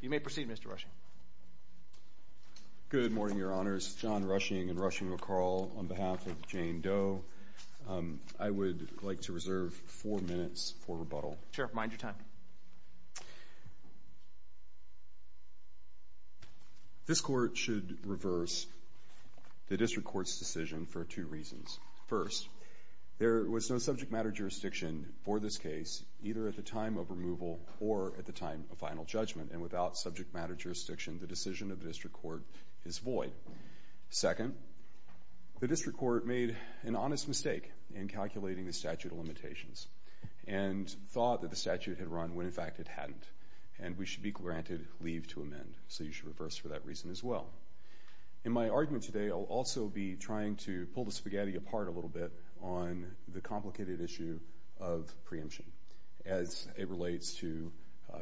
You may proceed, Mr. Rushing. Good morning, Your Honors. John Rushing and Rushing McCall on behalf of Jane Doe. I would like to reserve four minutes for rebuttal. Sheriff, mind your time. This court should reverse the District Court's decision for two reasons. First, there was no subject matter jurisdiction for this case either at the time of without subject matter jurisdiction, the decision of the District Court is void. Second, the District Court made an honest mistake in calculating the statute of limitations and thought that the statute had run when in fact it hadn't, and we should be granted leave to amend. So you should reverse for that reason as well. In my argument today, I'll also be trying to pull the spaghetti apart a little bit on the complicated issue of preemption as it relates to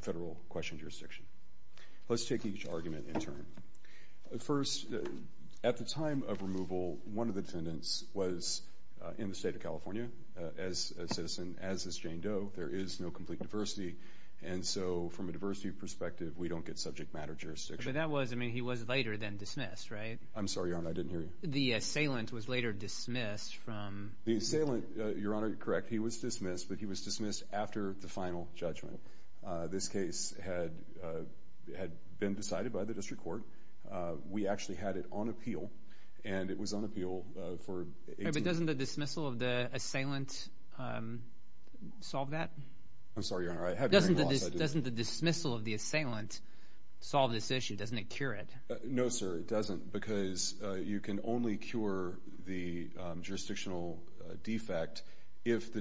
federal question jurisdiction. Let's take each argument in turn. First, at the time of removal, one of the defendants was in the state of California as a citizen, as is Jane Doe. There is no complete diversity, and so from a diversity perspective, we don't get subject matter jurisdiction. But that was, I mean, he was later than dismissed, right? I'm sorry, Your Honor, I didn't hear you. The assailant was later dismissed from... The assailant, Your Honor, correct, he was dismissed, but he was dismissed after the decision had been decided by the District Court. We actually had it on appeal, and it was on appeal for 18 months. But doesn't the dismissal of the assailant solve that? I'm sorry, Your Honor, I had to turn it off, so I didn't... Doesn't the dismissal of the assailant solve this issue? Doesn't it cure it? No, sir, it doesn't, because you can only cure the jurisdictional defect if the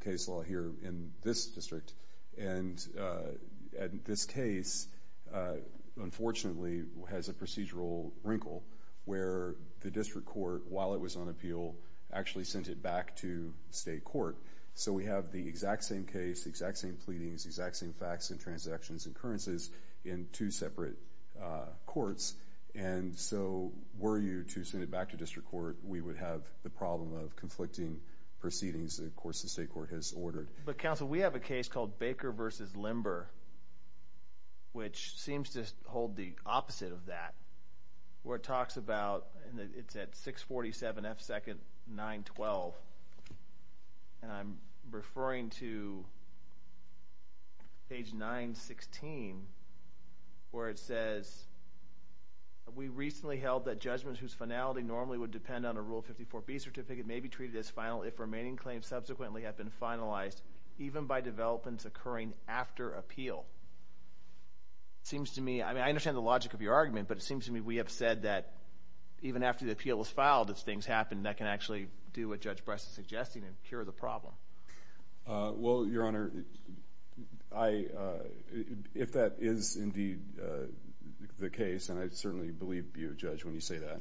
case law here in this district, and this case, unfortunately, has a procedural wrinkle where the District Court, while it was on appeal, actually sent it back to State Court. So we have the exact same case, the exact same pleadings, exact same facts and transactions and occurrences in two separate courts, and so were you to send it back to District Court, we would have the problem of conflicting proceedings, of course, the State Court has ordered. But, Counsel, we have a case called Baker v. Limber, which seems to hold the opposite of that, where it talks about, and it's at 647 F. Second, 912, and I'm referring to page 916, where it says, we recently held that judgments whose finality normally would depend on a Rule 54B certificate may be treated as final if remaining claims subsequently have been finalized, even by developments occurring after appeal. Seems to me, I mean, I understand the logic of your argument, but it seems to me we have said that even after the appeal is filed, if things happen, that can actually do what Judge Breslin is suggesting and cure the problem. Well, Your Honor, if that is indeed the case, and I certainly believe you, Judge, when you say that,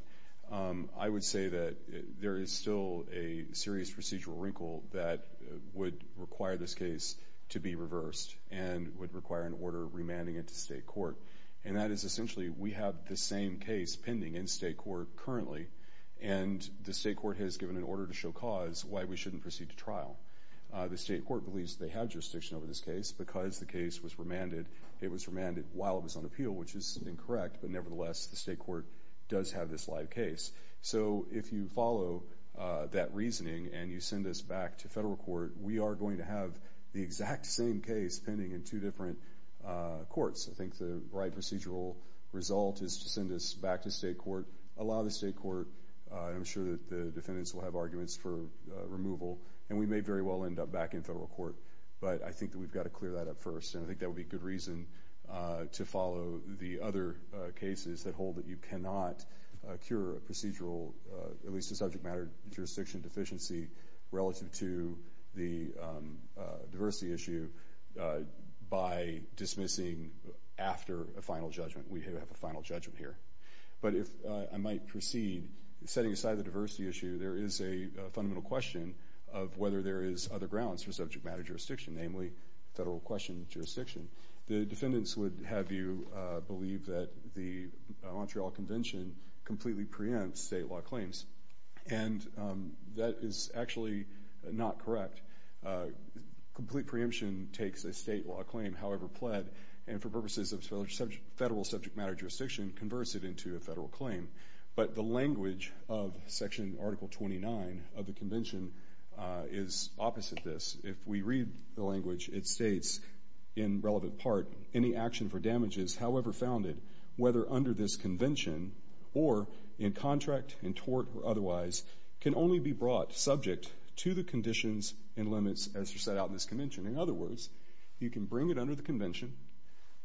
I would say that there is still a serious procedural wrinkle that would require this case to be reversed, and would require an order remanding it to State Court. And that is, essentially, we have the same case pending in State Court currently, and the State Court has given an order to show cause why we shouldn't proceed to trial. The State Court believes they have jurisdiction over this case because the case was remanded, it was remanded while it was on appeal, which is incorrect, but nevertheless, the State Court does have this live case. So, if you follow that reasoning, and you send us back to Federal Court, we are going to have the exact same case pending in two different courts. I think the right procedural result is to send us back to State Court, allow the State Court, I'm sure that the defendants will have arguments for removal, and we may very well end up back in Federal Court. But I think that we've got to clear that up first, and I think that would be good reason to follow the other cases that you cannot cure a procedural, at least a subject matter jurisdiction deficiency, relative to the diversity issue, by dismissing after a final judgment. We have a final judgment here. But if I might proceed, setting aside the diversity issue, there is a fundamental question of whether there is other grounds for subject matter jurisdiction, namely Federal question jurisdiction. The Montreal Convention completely preempts state law claims, and that is actually not correct. Complete preemption takes a state law claim, however pled, and for purposes of Federal subject matter jurisdiction, converts it into a Federal claim. But the language of Section Article 29 of the Convention is opposite this. If we read the language, it states, in relevant part, any action for damages, however founded, whether under this Convention, or in contract, in tort, or otherwise, can only be brought subject to the conditions and limits as set out in this Convention. In other words, you can bring it under the Convention,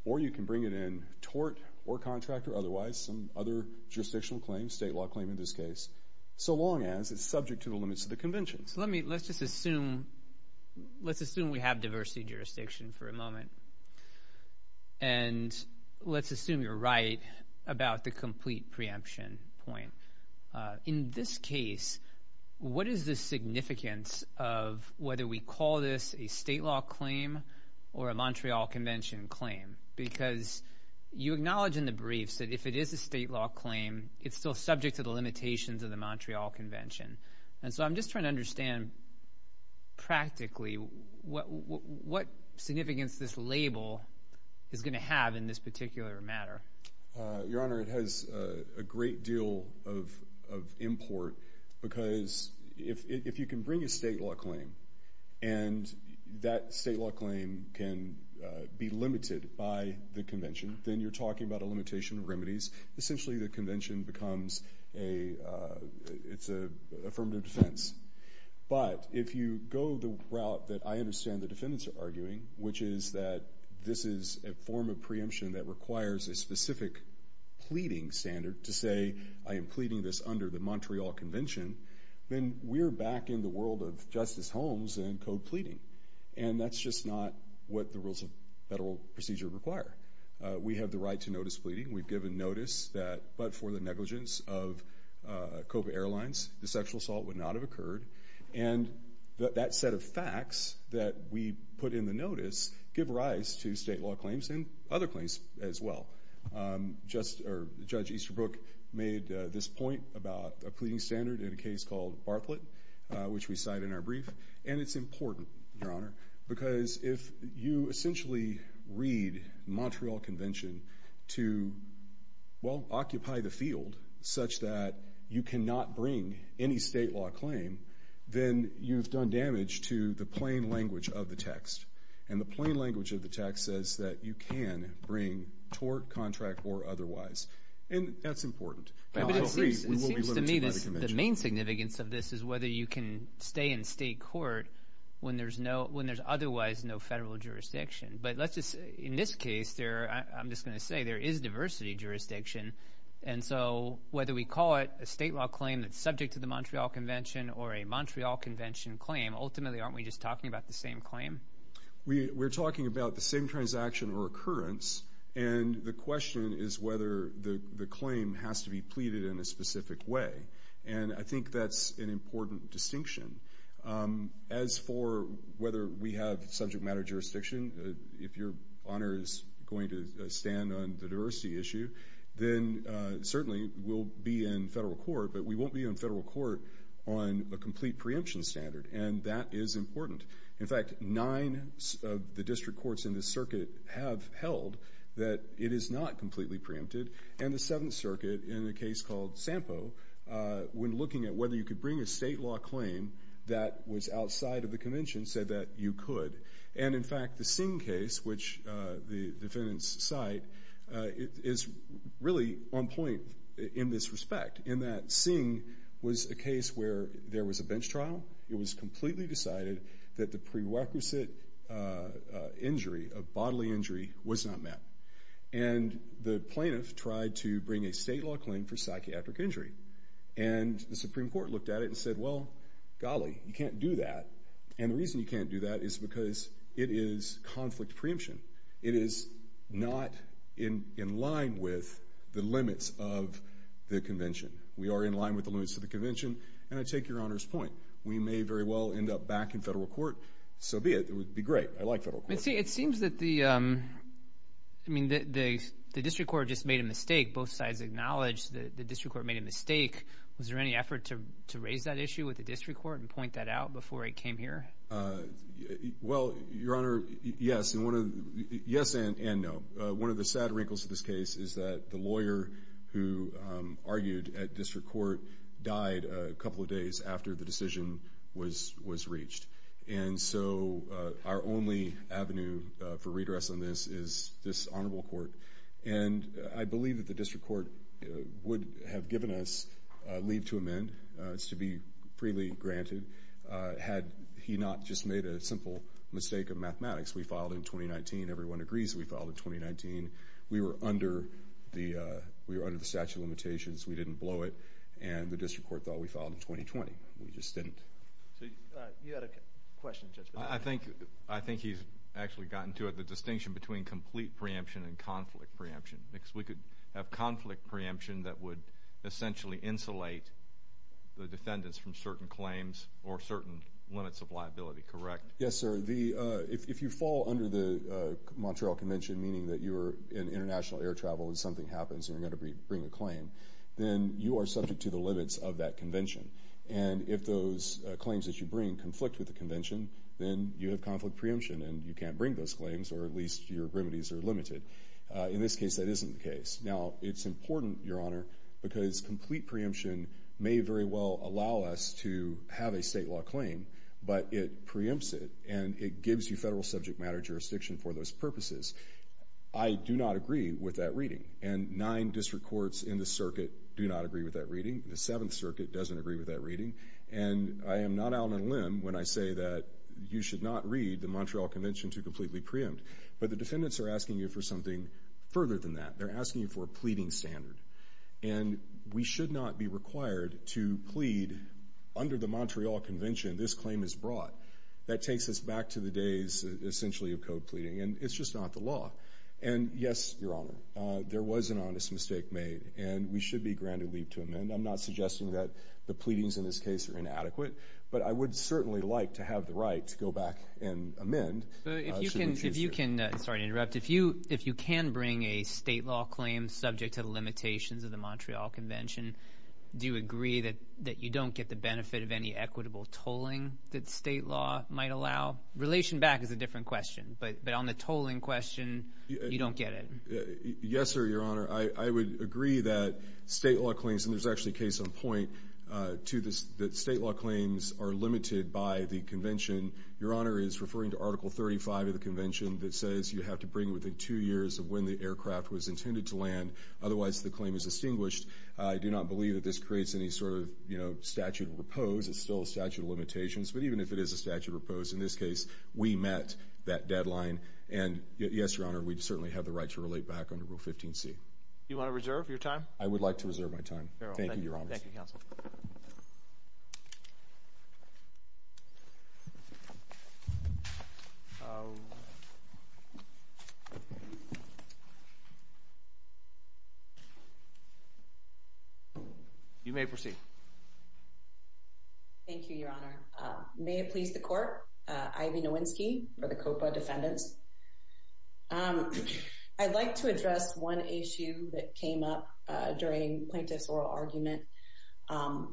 or you can bring it in tort, or contract, or otherwise, some other jurisdictional claim, state law claim in this case, so long as it's subject to the limits of the Convention. So let me, let's just assume, let's assume we have diversity jurisdiction for a moment, and let's assume you're right about the complete preemption point. In this case, what is the significance of whether we call this a state law claim or a Montreal Convention claim? Because you acknowledge in the briefs that if it is a state law claim, it's still subject to the limitations of the Montreal Convention. And so I'm just trying to figure out what significance this label is going to have in this particular matter. Your Honor, it has a great deal of import, because if you can bring a state law claim, and that state law claim can be limited by the Convention, then you're talking about a limitation of remedies. Essentially, the Convention becomes a, it's a affirmative defense. But if you go the route that I understand the Court is doing, which is that this is a form of preemption that requires a specific pleading standard to say, I am pleading this under the Montreal Convention, then we're back in the world of Justice Holmes and code pleading. And that's just not what the rules of federal procedure require. We have the right to notice pleading. We've given notice that, but for the negligence of COPA Airlines, the sexual assault would not have occurred. And that set of facts that we put in the notice give rise to state law claims and other claims as well. Just, or Judge Easterbrook made this point about a pleading standard in a case called Barflett, which we cite in our brief. And it's important, Your Honor, because if you essentially read Montreal Convention to, well, occupy the field such that you cannot bring any state law claim, then you've done damage to the plain language of the text. And the plain language of the text says that you can bring tort, contract, or otherwise. And that's important. The main significance of this is whether you can stay in state court when there's no, when there's otherwise no federal jurisdiction. But let's just, in this case there, I'm just going to say there is diversity jurisdiction. And so whether we call it a state law claim that's subject to the Montreal Convention or a aren't we just talking about the same claim? We're talking about the same transaction or occurrence. And the question is whether the claim has to be pleaded in a specific way. And I think that's an important distinction. As for whether we have subject matter jurisdiction, if Your Honor is going to stand on the diversity issue, then certainly we'll be in federal court. But we won't be in federal court on a complete preemption standard. And that is important. In fact, nine of the district courts in this circuit have held that it is not completely preempted. And the Seventh Circuit, in a case called Sampo, when looking at whether you could bring a state law claim that was outside of the convention, said that you could. And in fact, the Singh case, which the was a case where there was a bench trial. It was completely decided that the prerequisite injury, a bodily injury, was not met. And the plaintiff tried to bring a state law claim for psychiatric injury. And the Supreme Court looked at it and said, well, golly, you can't do that. And the reason you can't do that is because it is conflict preemption. It is not in line with the limits of the convention. And I take Your Honor's point. We may very well end up back in federal court. So be it. It would be great. I like federal court. It seems that the, I mean, the district court just made a mistake. Both sides acknowledge that the district court made a mistake. Was there any effort to raise that issue with the district court and point that out before it came here? Well, Your Honor, yes and no. One of the sad wrinkles of this case is that the died a couple of days after the decision was reached. And so our only avenue for redress on this is this honorable court. And I believe that the district court would have given us leave to amend. It's to be freely granted had he not just made a simple mistake of mathematics. We filed in 2019. Everyone agrees we filed in 2019. We were under the statute of limitations. We didn't blow it. And the district court thought we filed in 2020. We just didn't. You had a question, Judge? I think he's actually gotten to it. The distinction between complete preemption and conflict preemption. Because we could have conflict preemption that would essentially insulate the defendants from certain claims or certain limits of liability, correct? Yes, sir. If you fall under the Montreal Convention, meaning that you're in international air travel and something happens and you're going to bring a claim, then you are subject to the limits of that convention. And if those claims that you bring conflict with the convention, then you have conflict preemption and you can't bring those claims or at least your remedies are limited. In this case, that isn't the case. Now, it's important, Your Honor, because complete preemption may very well allow us to have a state law claim, but it preempts it and it gives you federal subject matter jurisdiction for those purposes. I do not agree with that nine district courts in the circuit do not agree with that reading. The Seventh Circuit doesn't agree with that reading, and I am not out on a limb when I say that you should not read the Montreal Convention to completely preempt. But the defendants are asking you for something further than that. They're asking you for a pleading standard, and we should not be required to plead under the Montreal Convention. This claim is brought. That takes us back to the days essentially of code pleading, and it's just not the law. And yes, Your Honor, there was an honest mistake made, and we should be granted leave to amend. I'm not suggesting that the pleadings in this case are inadequate, but I would certainly like to have the right to go back and amend. If you can sorry to interrupt. If you if you can bring a state law claim subject to the limitations of the Montreal Convention, do you agree that that you don't get the benefit of any equitable tolling that state law might allow? Relation back is a different question, but on the tolling question, you don't get it. Yes, sir. Your Honor, I would agree that state law claims and there's actually case on point to this. That state law claims are limited by the convention. Your Honor is referring to Article 35 of the convention that says you have to bring within two years of when the aircraft was intended to land. Otherwise, the claim is distinguished. I do not believe that this creates any sort of, you know, statute repose. It's still a statute of limitations, but even if it is a statute repose in this case, we met that deadline. And yes, Your Honor, we certainly have the right to relate back under Rule 15 C. You want to reserve your time? I would like to reserve my time. Thank you, Your Honor. Thank you, Counsel. You may proceed. Thank you, Your Honor. May it please the court. Ivy Nowinski for the Copa defendants. I'd like to address one issue that came up during plaintiff's oral argument,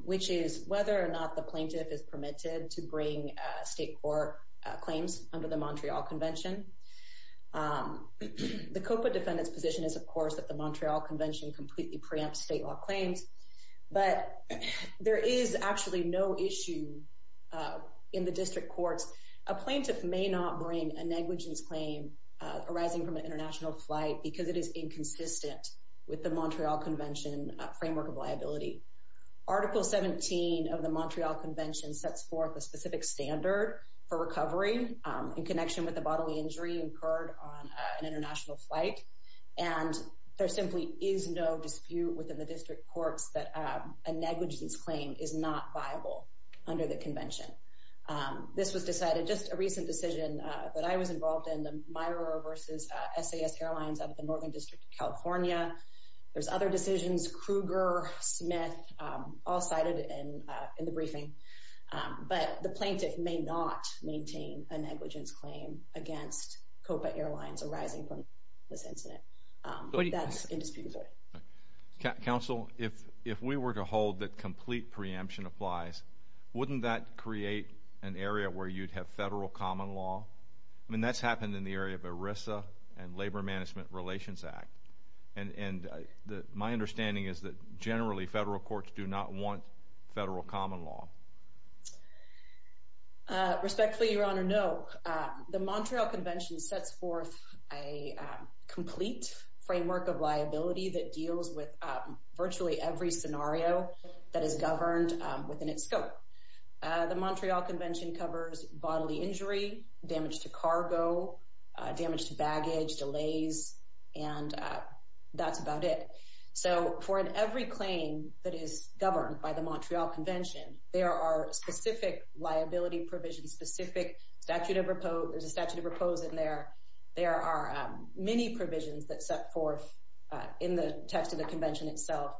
which is whether or not the plaintiff is permitted to bring state court claims under the Montreal Convention. The Copa defendants position is, of course, that the Montreal Convention completely preempt state law claims, but there is actually no issue in the negligence claim arising from an international flight because it is inconsistent with the Montreal Convention framework of liability. Article 17 of the Montreal Convention sets forth a specific standard for recovery in connection with the bodily injury incurred on an international flight. And there simply is no dispute within the district courts that a negligence claim is not viable under the convention. This was decided just a month ago. There's other decisions, Kruger, Smith, all cited in the briefing, but the plaintiff may not maintain a negligence claim against Copa Airlines arising from this incident. Counsel, if we were to hold that complete preemption applies, wouldn't that create an area where you'd have federal common law? I mean, that's happened in the area of ERISA and Labor Management Relations Act. And my understanding is that generally federal courts do not want federal common law. Respectfully, Your Honor, no. The Montreal Convention sets forth a complete framework of liability that deals with virtually every scenario that is governed within its scope. The Montreal Convention covers bodily injury, damage to cargo, damage to baggage, delays, and that's about it. So for every claim that is governed by the Montreal Convention, there are specific liability provisions, specific statute of repose. There's a statute of repose in there. There are many provisions that set forth in the text of the Montreal Convention itself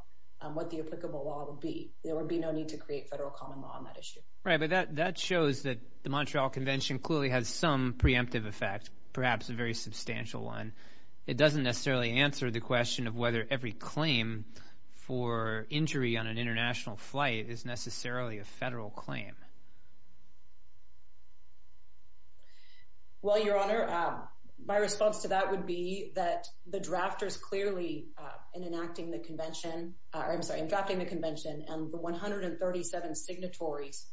what the applicable law would be. There would be no need to create federal common law on that issue. Right, but that shows that the Montreal Convention clearly has some preemptive effect, perhaps a very substantial one. It doesn't necessarily answer the question of whether every claim for injury on an international flight is necessarily a federal claim. Well, Your Honor, my response to that would be that the drafters clearly, in enacting the convention, or I'm sorry, in drafting the convention and the 137 signatories,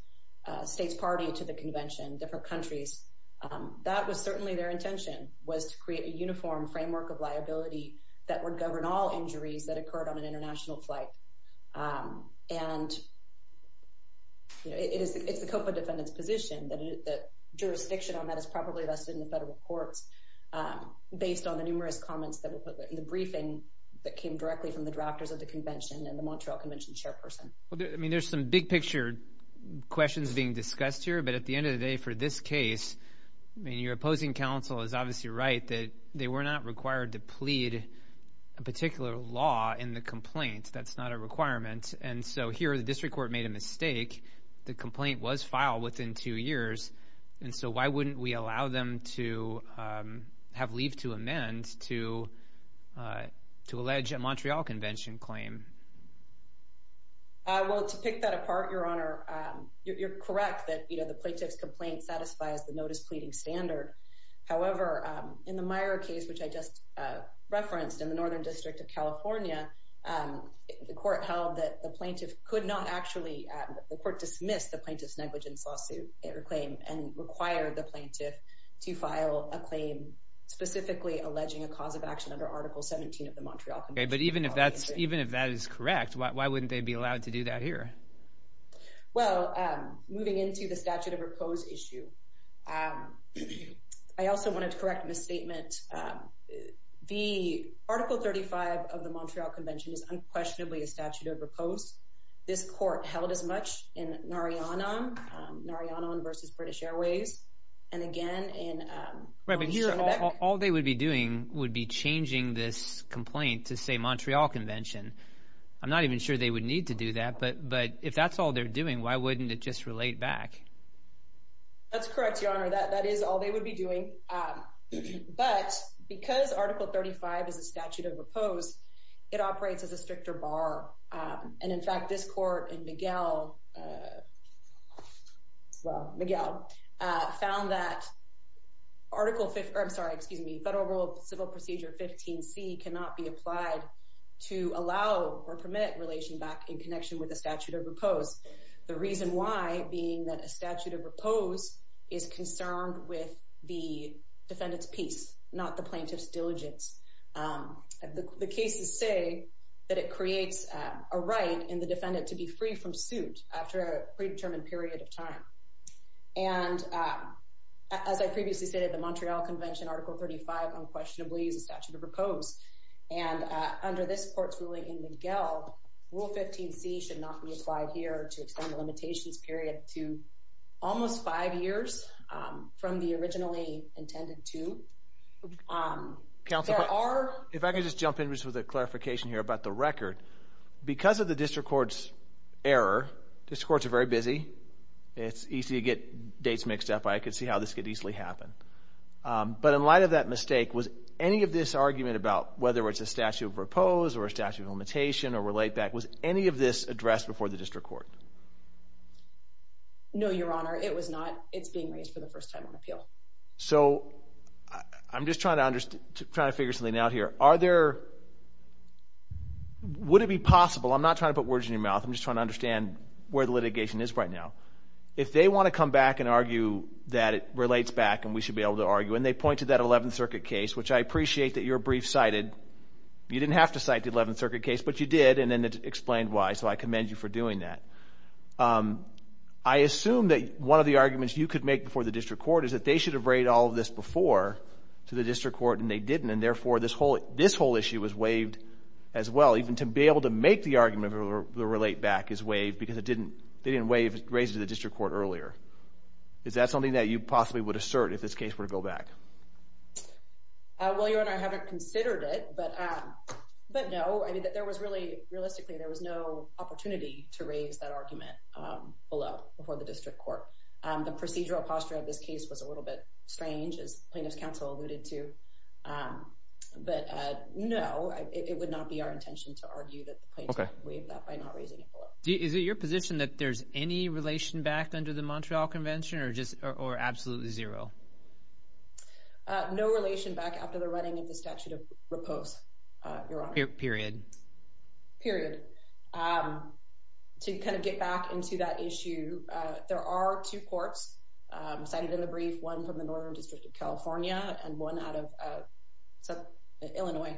states party to the convention, different countries, that was certainly their intention, was to create a uniform framework of liability that would govern all injuries that occurred on an international flight. And it's the COPA defendant's position that jurisdiction on that is probably vested in the federal courts, based on the numerous comments that were put in the directly from the drafters of the convention and the Montreal Convention chairperson. Well, I mean, there's some big picture questions being discussed here. But at the end of the day, for this case, I mean, your opposing counsel is obviously right that they were not required to plead a particular law in the complaint. That's not a requirement. And so here the district court made a mistake. The complaint was filed within two years. And so why wouldn't we allow them to have leave to amend to, to allege a Montreal Convention claim? Well, to pick that apart, Your Honor, you're correct that, you know, the plaintiff's complaint satisfies the notice pleading standard. However, in the Meyer case, which I just referenced in the Northern District of California, the court held that the plaintiff could not actually, the court dismissed the plaintiff to file a claim, specifically alleging a cause of action under Article 17 of the Montreal Convention. Okay, but even if that's even if that is correct, why wouldn't they be allowed to do that here? Well, moving into the statute of repose issue. I also wanted to correct misstatement. The Article 35 of the Montreal Convention is unquestionably a statute of repose. This court held as much in Narayanan, Narayanan versus British Airways. And again, in... Right, but here, all they would be doing would be changing this complaint to say Montreal Convention. I'm not even sure they would need to do that. But but if that's all they're doing, why wouldn't it just relate back? That's correct, Your Honor, that that is all they would be doing. But because Article 35 is a statute of repose, it operates as a stricter bar. And in fact, this court and Miguel, Miguel, found that Article 15, I'm sorry, excuse me, Federal Rule of Civil Procedure 15c cannot be applied to allow or permit relation back in connection with a statute of repose. The reason why being that a statute of repose is concerned with the defendant's peace, not the defendant to be free from suit after a predetermined period of time. And as I previously stated, the Montreal Convention, Article 35, unquestionably is a statute of repose. And under this court's ruling in Miguel, Rule 15c should not be applied here to extend the limitations period to almost five years from the originally intended to. Counselor, if I could just jump in just with a clarification here about the court's error. District courts are very busy. It's easy to get dates mixed up. I could see how this could easily happen. But in light of that mistake, was any of this argument about whether it's a statute of repose or a statute of limitation or relate back, was any of this addressed before the district court? No, Your Honor, it was not. It's being raised for the first time on appeal. So I'm just trying to figure something out here. Are there, would it be in your mouth? I'm just trying to understand where the litigation is right now. If they want to come back and argue that it relates back and we should be able to argue, and they point to that 11th Circuit case, which I appreciate that you're brief cited. You didn't have to cite the 11th Circuit case, but you did. And then it explained why. So I commend you for doing that. Um, I assume that one of the arguments you could make before the district court is that they should have read all of this before to the district court, and they didn't. And therefore, this whole this whole issue was waived as well, even to be able to make the argument of the relate back is waived because it didn't. They didn't waive it raised to the district court earlier. Is that something that you possibly would assert if this case were to go back? Well, Your Honor, I haven't considered it, but, um, but no, I mean, there was really, realistically, there was no opportunity to raise that argument, um, below before the district court. Um, the procedural posture of this case was a little bit strange, as plaintiff's counsel alluded to. Um, but, uh, no, it would not be our intention to argue that the plaintiff waived that by not raising it below. Is it your position that there's any relation backed under the Montreal Convention or just or absolutely zero? Uh, no relation back after the running of the statute of repose. Uh, Your Honor. Period. Period. Um, to kind of get back into that issue, there are two courts, um, cited in the brief one from the northern district of California and one out of, uh, Illinois.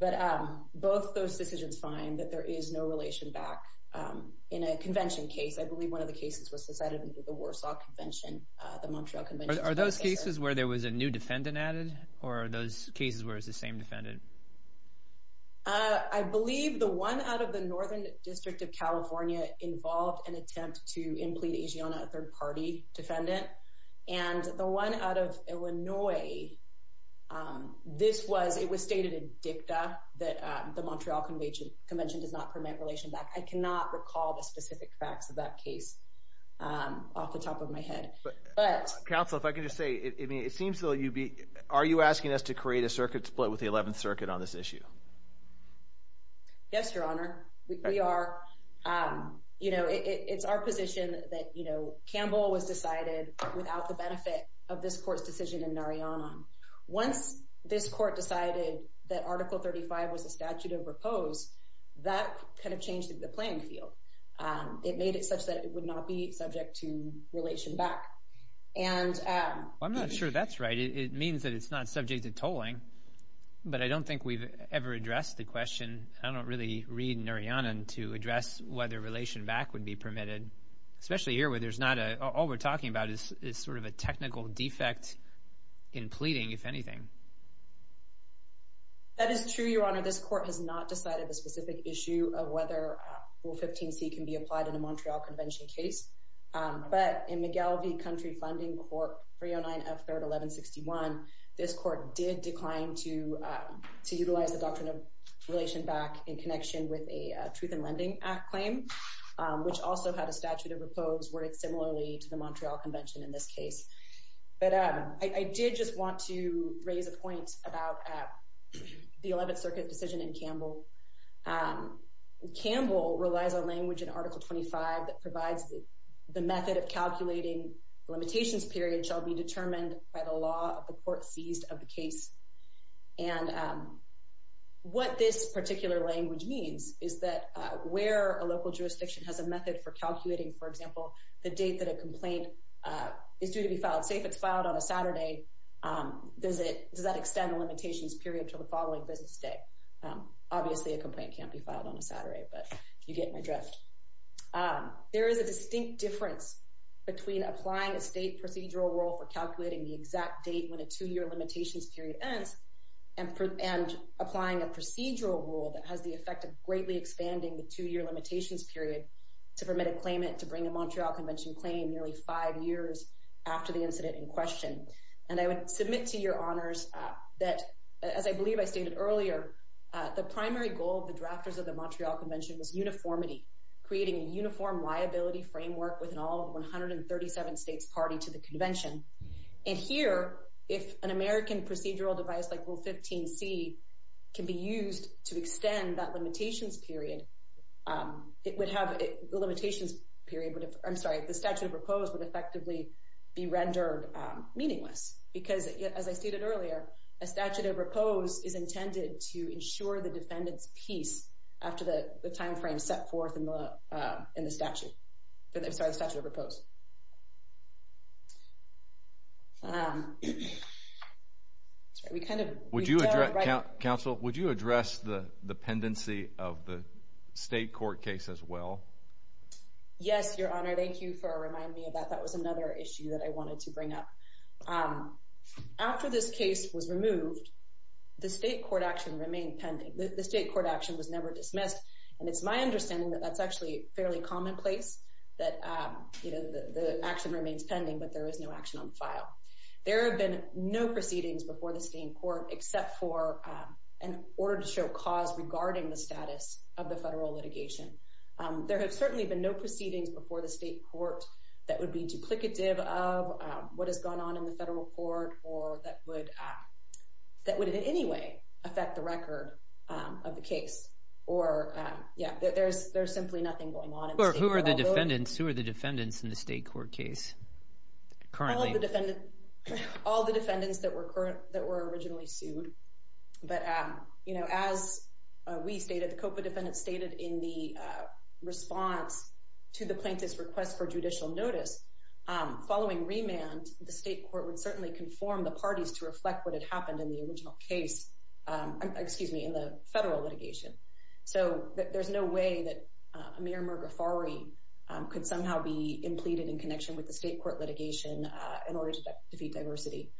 But, um, both those decisions find that there is no relation back. Um, in a convention case, I believe one of the cases was decided under the Warsaw Convention. The Montreal Convention. Are those cases where there was a new defendant added or those cases where it's the same defendant? Uh, I believe the one out of the northern district of California involved an attempt to implede asiana third party defendant and the one out of Illinois. Um, this was it was stated in dicta that the Montreal Convention Convention does not permit relation back. I cannot recall the specific facts of that case, um, off the top of my head. But Council, if I could just say it seems so. You be Are you asking us to create a circuit split with the 11th Circuit on this issue? Yes, Your Honor. We are. Um, you know, it's our position that, you know, the benefit of this court's decision in Nari on once this court decided that Article 35 was a statute of repose that kind of changed the playing field. It made it such that it would not be subject to relation back. And I'm not sure that's right. It means that it's not subject to tolling. But I don't think we've ever addressed the question. I don't really read Nari on and to address whether relation back would be permitted, especially here, where there's not a all we're talking about is sort of a technical defect in pleading, if anything. That is true, Your Honor. This court has not decided a specific issue of whether 15 C can be applied in a Montreal Convention case. But in McGill, the country funding court for your nine of 3rd 11 61 this court did decline to utilize the doctrine of relation back in connection with a lending claim, which also had a statute of repose where it's similarly to the Montreal Convention in this case. But I did just want to raise a point about the 11th Circuit decision in Campbell. Um, Campbell relies on language in Article 25 that provides the method of calculating limitations period shall be determined by the law of the court seized of the case. And, um, what this particular language means is that where a local jurisdiction has a method for calculating, for example, the date that a complaint is due to be filed, say, if it's filed on a Saturday, um, does it does that extend the limitations period to the following business day? Obviously, a complaint can't be filed on a Saturday, but you get my dress. Um, there is a distinct difference between applying a state procedural role for calculating the exact date when a two has the effect of greatly expanding the two year limitations period to permit a claimant to bring a Montreal Convention claim nearly five years after the incident in question. And I would submit to your honors that, as I believe I stated earlier, the primary goal of the drafters of the Montreal Convention was uniformity, creating a uniform liability framework with all 137 states party to the convention. And here, if an American procedural device like will 15 C can be used to extend that limitations period, um, it would have the limitations period. But if I'm sorry, the statute of repose would effectively be rendered meaningless because, as I stated earlier, a statute of repose is intended to ensure the defendant's peace after the time frame set forth in the in the statute. I'm sorry, the statute of repose. Um, we kind of would you address Council? Would you address the dependency of the state court case as well? Yes, Your Honor. Thank you for reminding me of that. That was another issue that I wanted to bring up. Um, after this case was removed, the state court action remained pending. The state court action was never dismissed, and it's my understanding that that's actually fairly commonplace that, um, you know, the action remains pending, but there is no action on file. There have been no proceedings before the state court except for an order to show cause regarding the status of the federal litigation. There have certainly been no proceedings before the state court that would be duplicative of what has gone on in the federal court or that would that would in any way affect the record of the case. Or, yeah, there's there's simply nothing going on. Who are the defendants? Who are the defendants in the state court case? Currently, all the defendants that were current that were originally sued. But, um, you know, as we stated, the Copa defendant stated in the response to the plaintiff's request for judicial notice following remand, the state court would certainly conform the parties to reflect what had happened in the original case. Um, excuse me, in the mayor. Murga Fari could somehow be implicated in connection with the state court litigation in order to defeat diversity.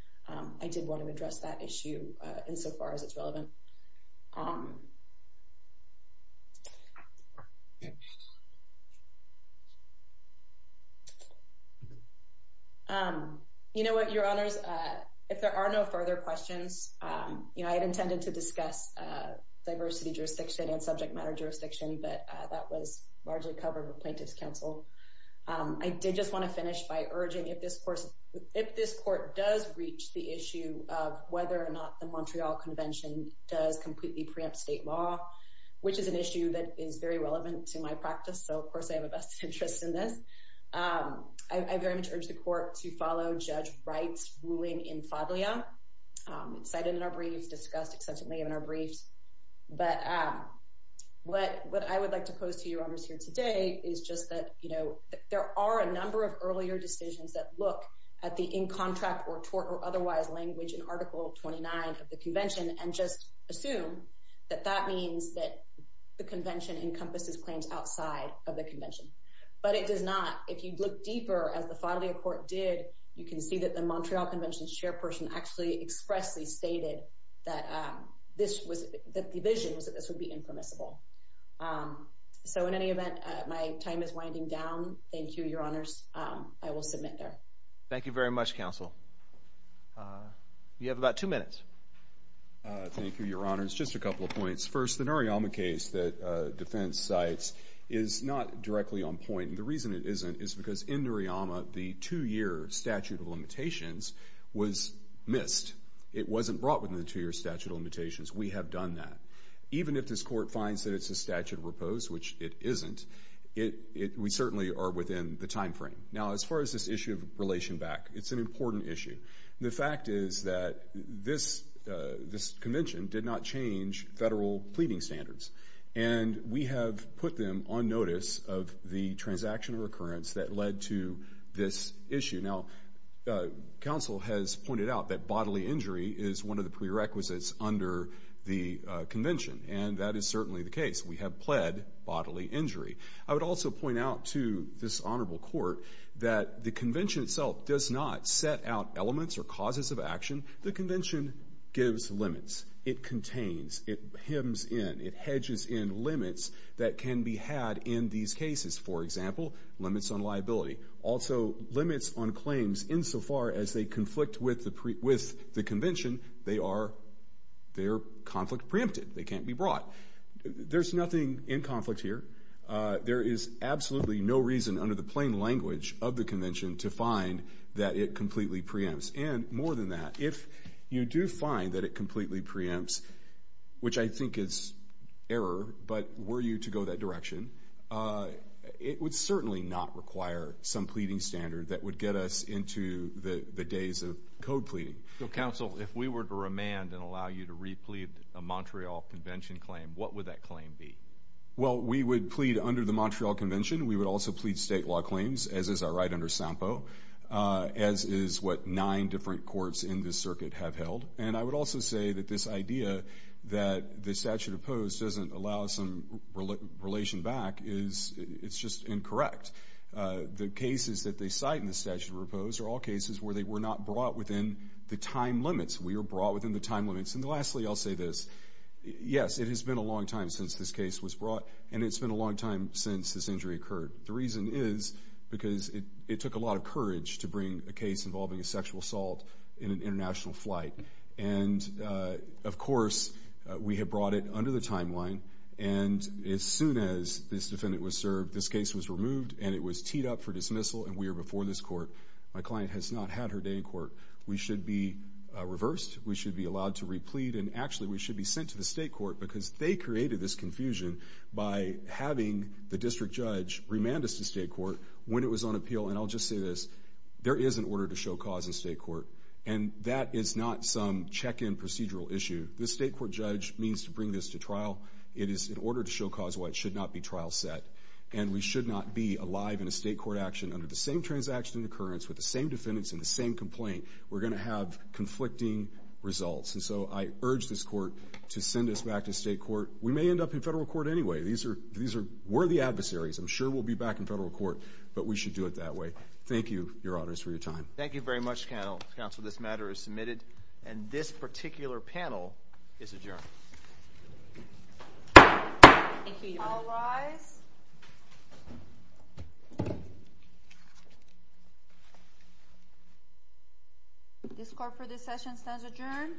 I did want to address that issue insofar as it's relevant. Um, yeah, um, you know what? Your honors, if there are no further questions, you know, I had intended to discuss diversity jurisdiction and subject matter jurisdiction, but that was largely covered with plaintiff's counsel. I did just want to finish by urging if this course if this court does reach the issue of whether or not the Montreal Convention does completely preempt state law, which is an issue that is very relevant to my practice. So, of course, I have a vested interest in this. Um, I very much urge the court to follow Judge Wright's ruling in Fablia cited in our briefs discussed extensively in our briefs. But, um, what? What I would like to pose to your honors here today is just that, you know, there are a number of earlier decisions that look at the in contract or tort or otherwise language in Article 29 of the convention and just assume that that means that the convention encompasses claims outside of the convention. But it does not. If you look deeper as the family of court did, you can see that the Montreal Convention's chairperson actually expressly stated that this was that the vision was that this would be impermissible. Um, so in any event, my time is winding down. Thank you, your honors. I will submit there. Thank you very much, Counsel. Uh, you have about two minutes. Thank you, Your Honor. It's just a couple of points. First, the Nariyama case that defense sites is not directly on point. The reason it isn't is because in Nariyama, the two year statute of limitations was missed. It wasn't brought within the two year statute of limitations. We have done that. Even if this court finds that it's a statute of repose, which it isn't it, we certainly are within the time frame. Now, as far as this issue of relation back, it's an important issue. The fact is that this this convention did not change federal pleading standards, and we have put them on notice of the transaction of recurrence that led to this issue. Now, uh, Council has pointed out that bodily injury is one of the prerequisites under the convention, and that is certainly the case. We have pled bodily injury. I would also point out to this honorable court that the convention itself does not set out elements or causes of action. The convention gives limits. It contains it hymns in it hedges in limits that can be had in these cases, for example, limits on liability also limits on claims insofar as they conflict with the with the convention. They are their conflict preempted. They can't be brought. There's nothing in conflict here. Uh, there is absolutely no reason under the plain language of the convention to find that it completely preempts and more than that, if you do find that it completely preempts, which I think it's error. But were you to go that direction, uh, it would certainly not require some pleading standard that would get us into the days of code pleading. So, Council, if we were to remand and allow you to replete a Montreal convention claim, what would that claim be? Well, we would plead under the Montreal convention. We would also plead state law claims, as is our right under sample, uh, as is what nine different courts in this circuit have held. And I would also say that this idea that the statute opposed doesn't allow some relation back is it's just incorrect. The cases that they cite in the statute proposed are all cases where they were not brought within the time limits. We were brought within the time limits. And lastly, I'll say this. Yes, it has been a long time since this case was brought, and it's been a long time since this injury occurred. The reason is because it took a lot of courage to bring a case involving a sexual assault in an international flight. And, uh, of course, we have brought it under the timeline. And as soon as this defendant was served, this case was removed, and it was teed up for dismissal, and we are before this court. My client has not had her day in court. We should be reversed. We should be allowed to replete. And actually, we should be sent to the state court because they created this confusion by having the district judge remand us to state court when it was on appeal. And I'll just say this. There is an order to show cause in state court, and that is not some check-in procedural issue. This state court judge means to bring this to trial. It is in order to show cause why it should not be trial set. And we should not be alive in a state court action under the same transaction and occurrence with the same defendants in the same complaint. We're going to have conflicting results. And so I urge this court to send us back to state court. We may end up in federal court anyway. These are worthy adversaries. I'm sure we'll be back in federal court, but we should do it that way. Thank you, Your Honors, for your time. Thank you very much, counsel. This matter is submitted. And this particular panel is adjourned. Thank you, Your Honor. This court for this session stands adjourned.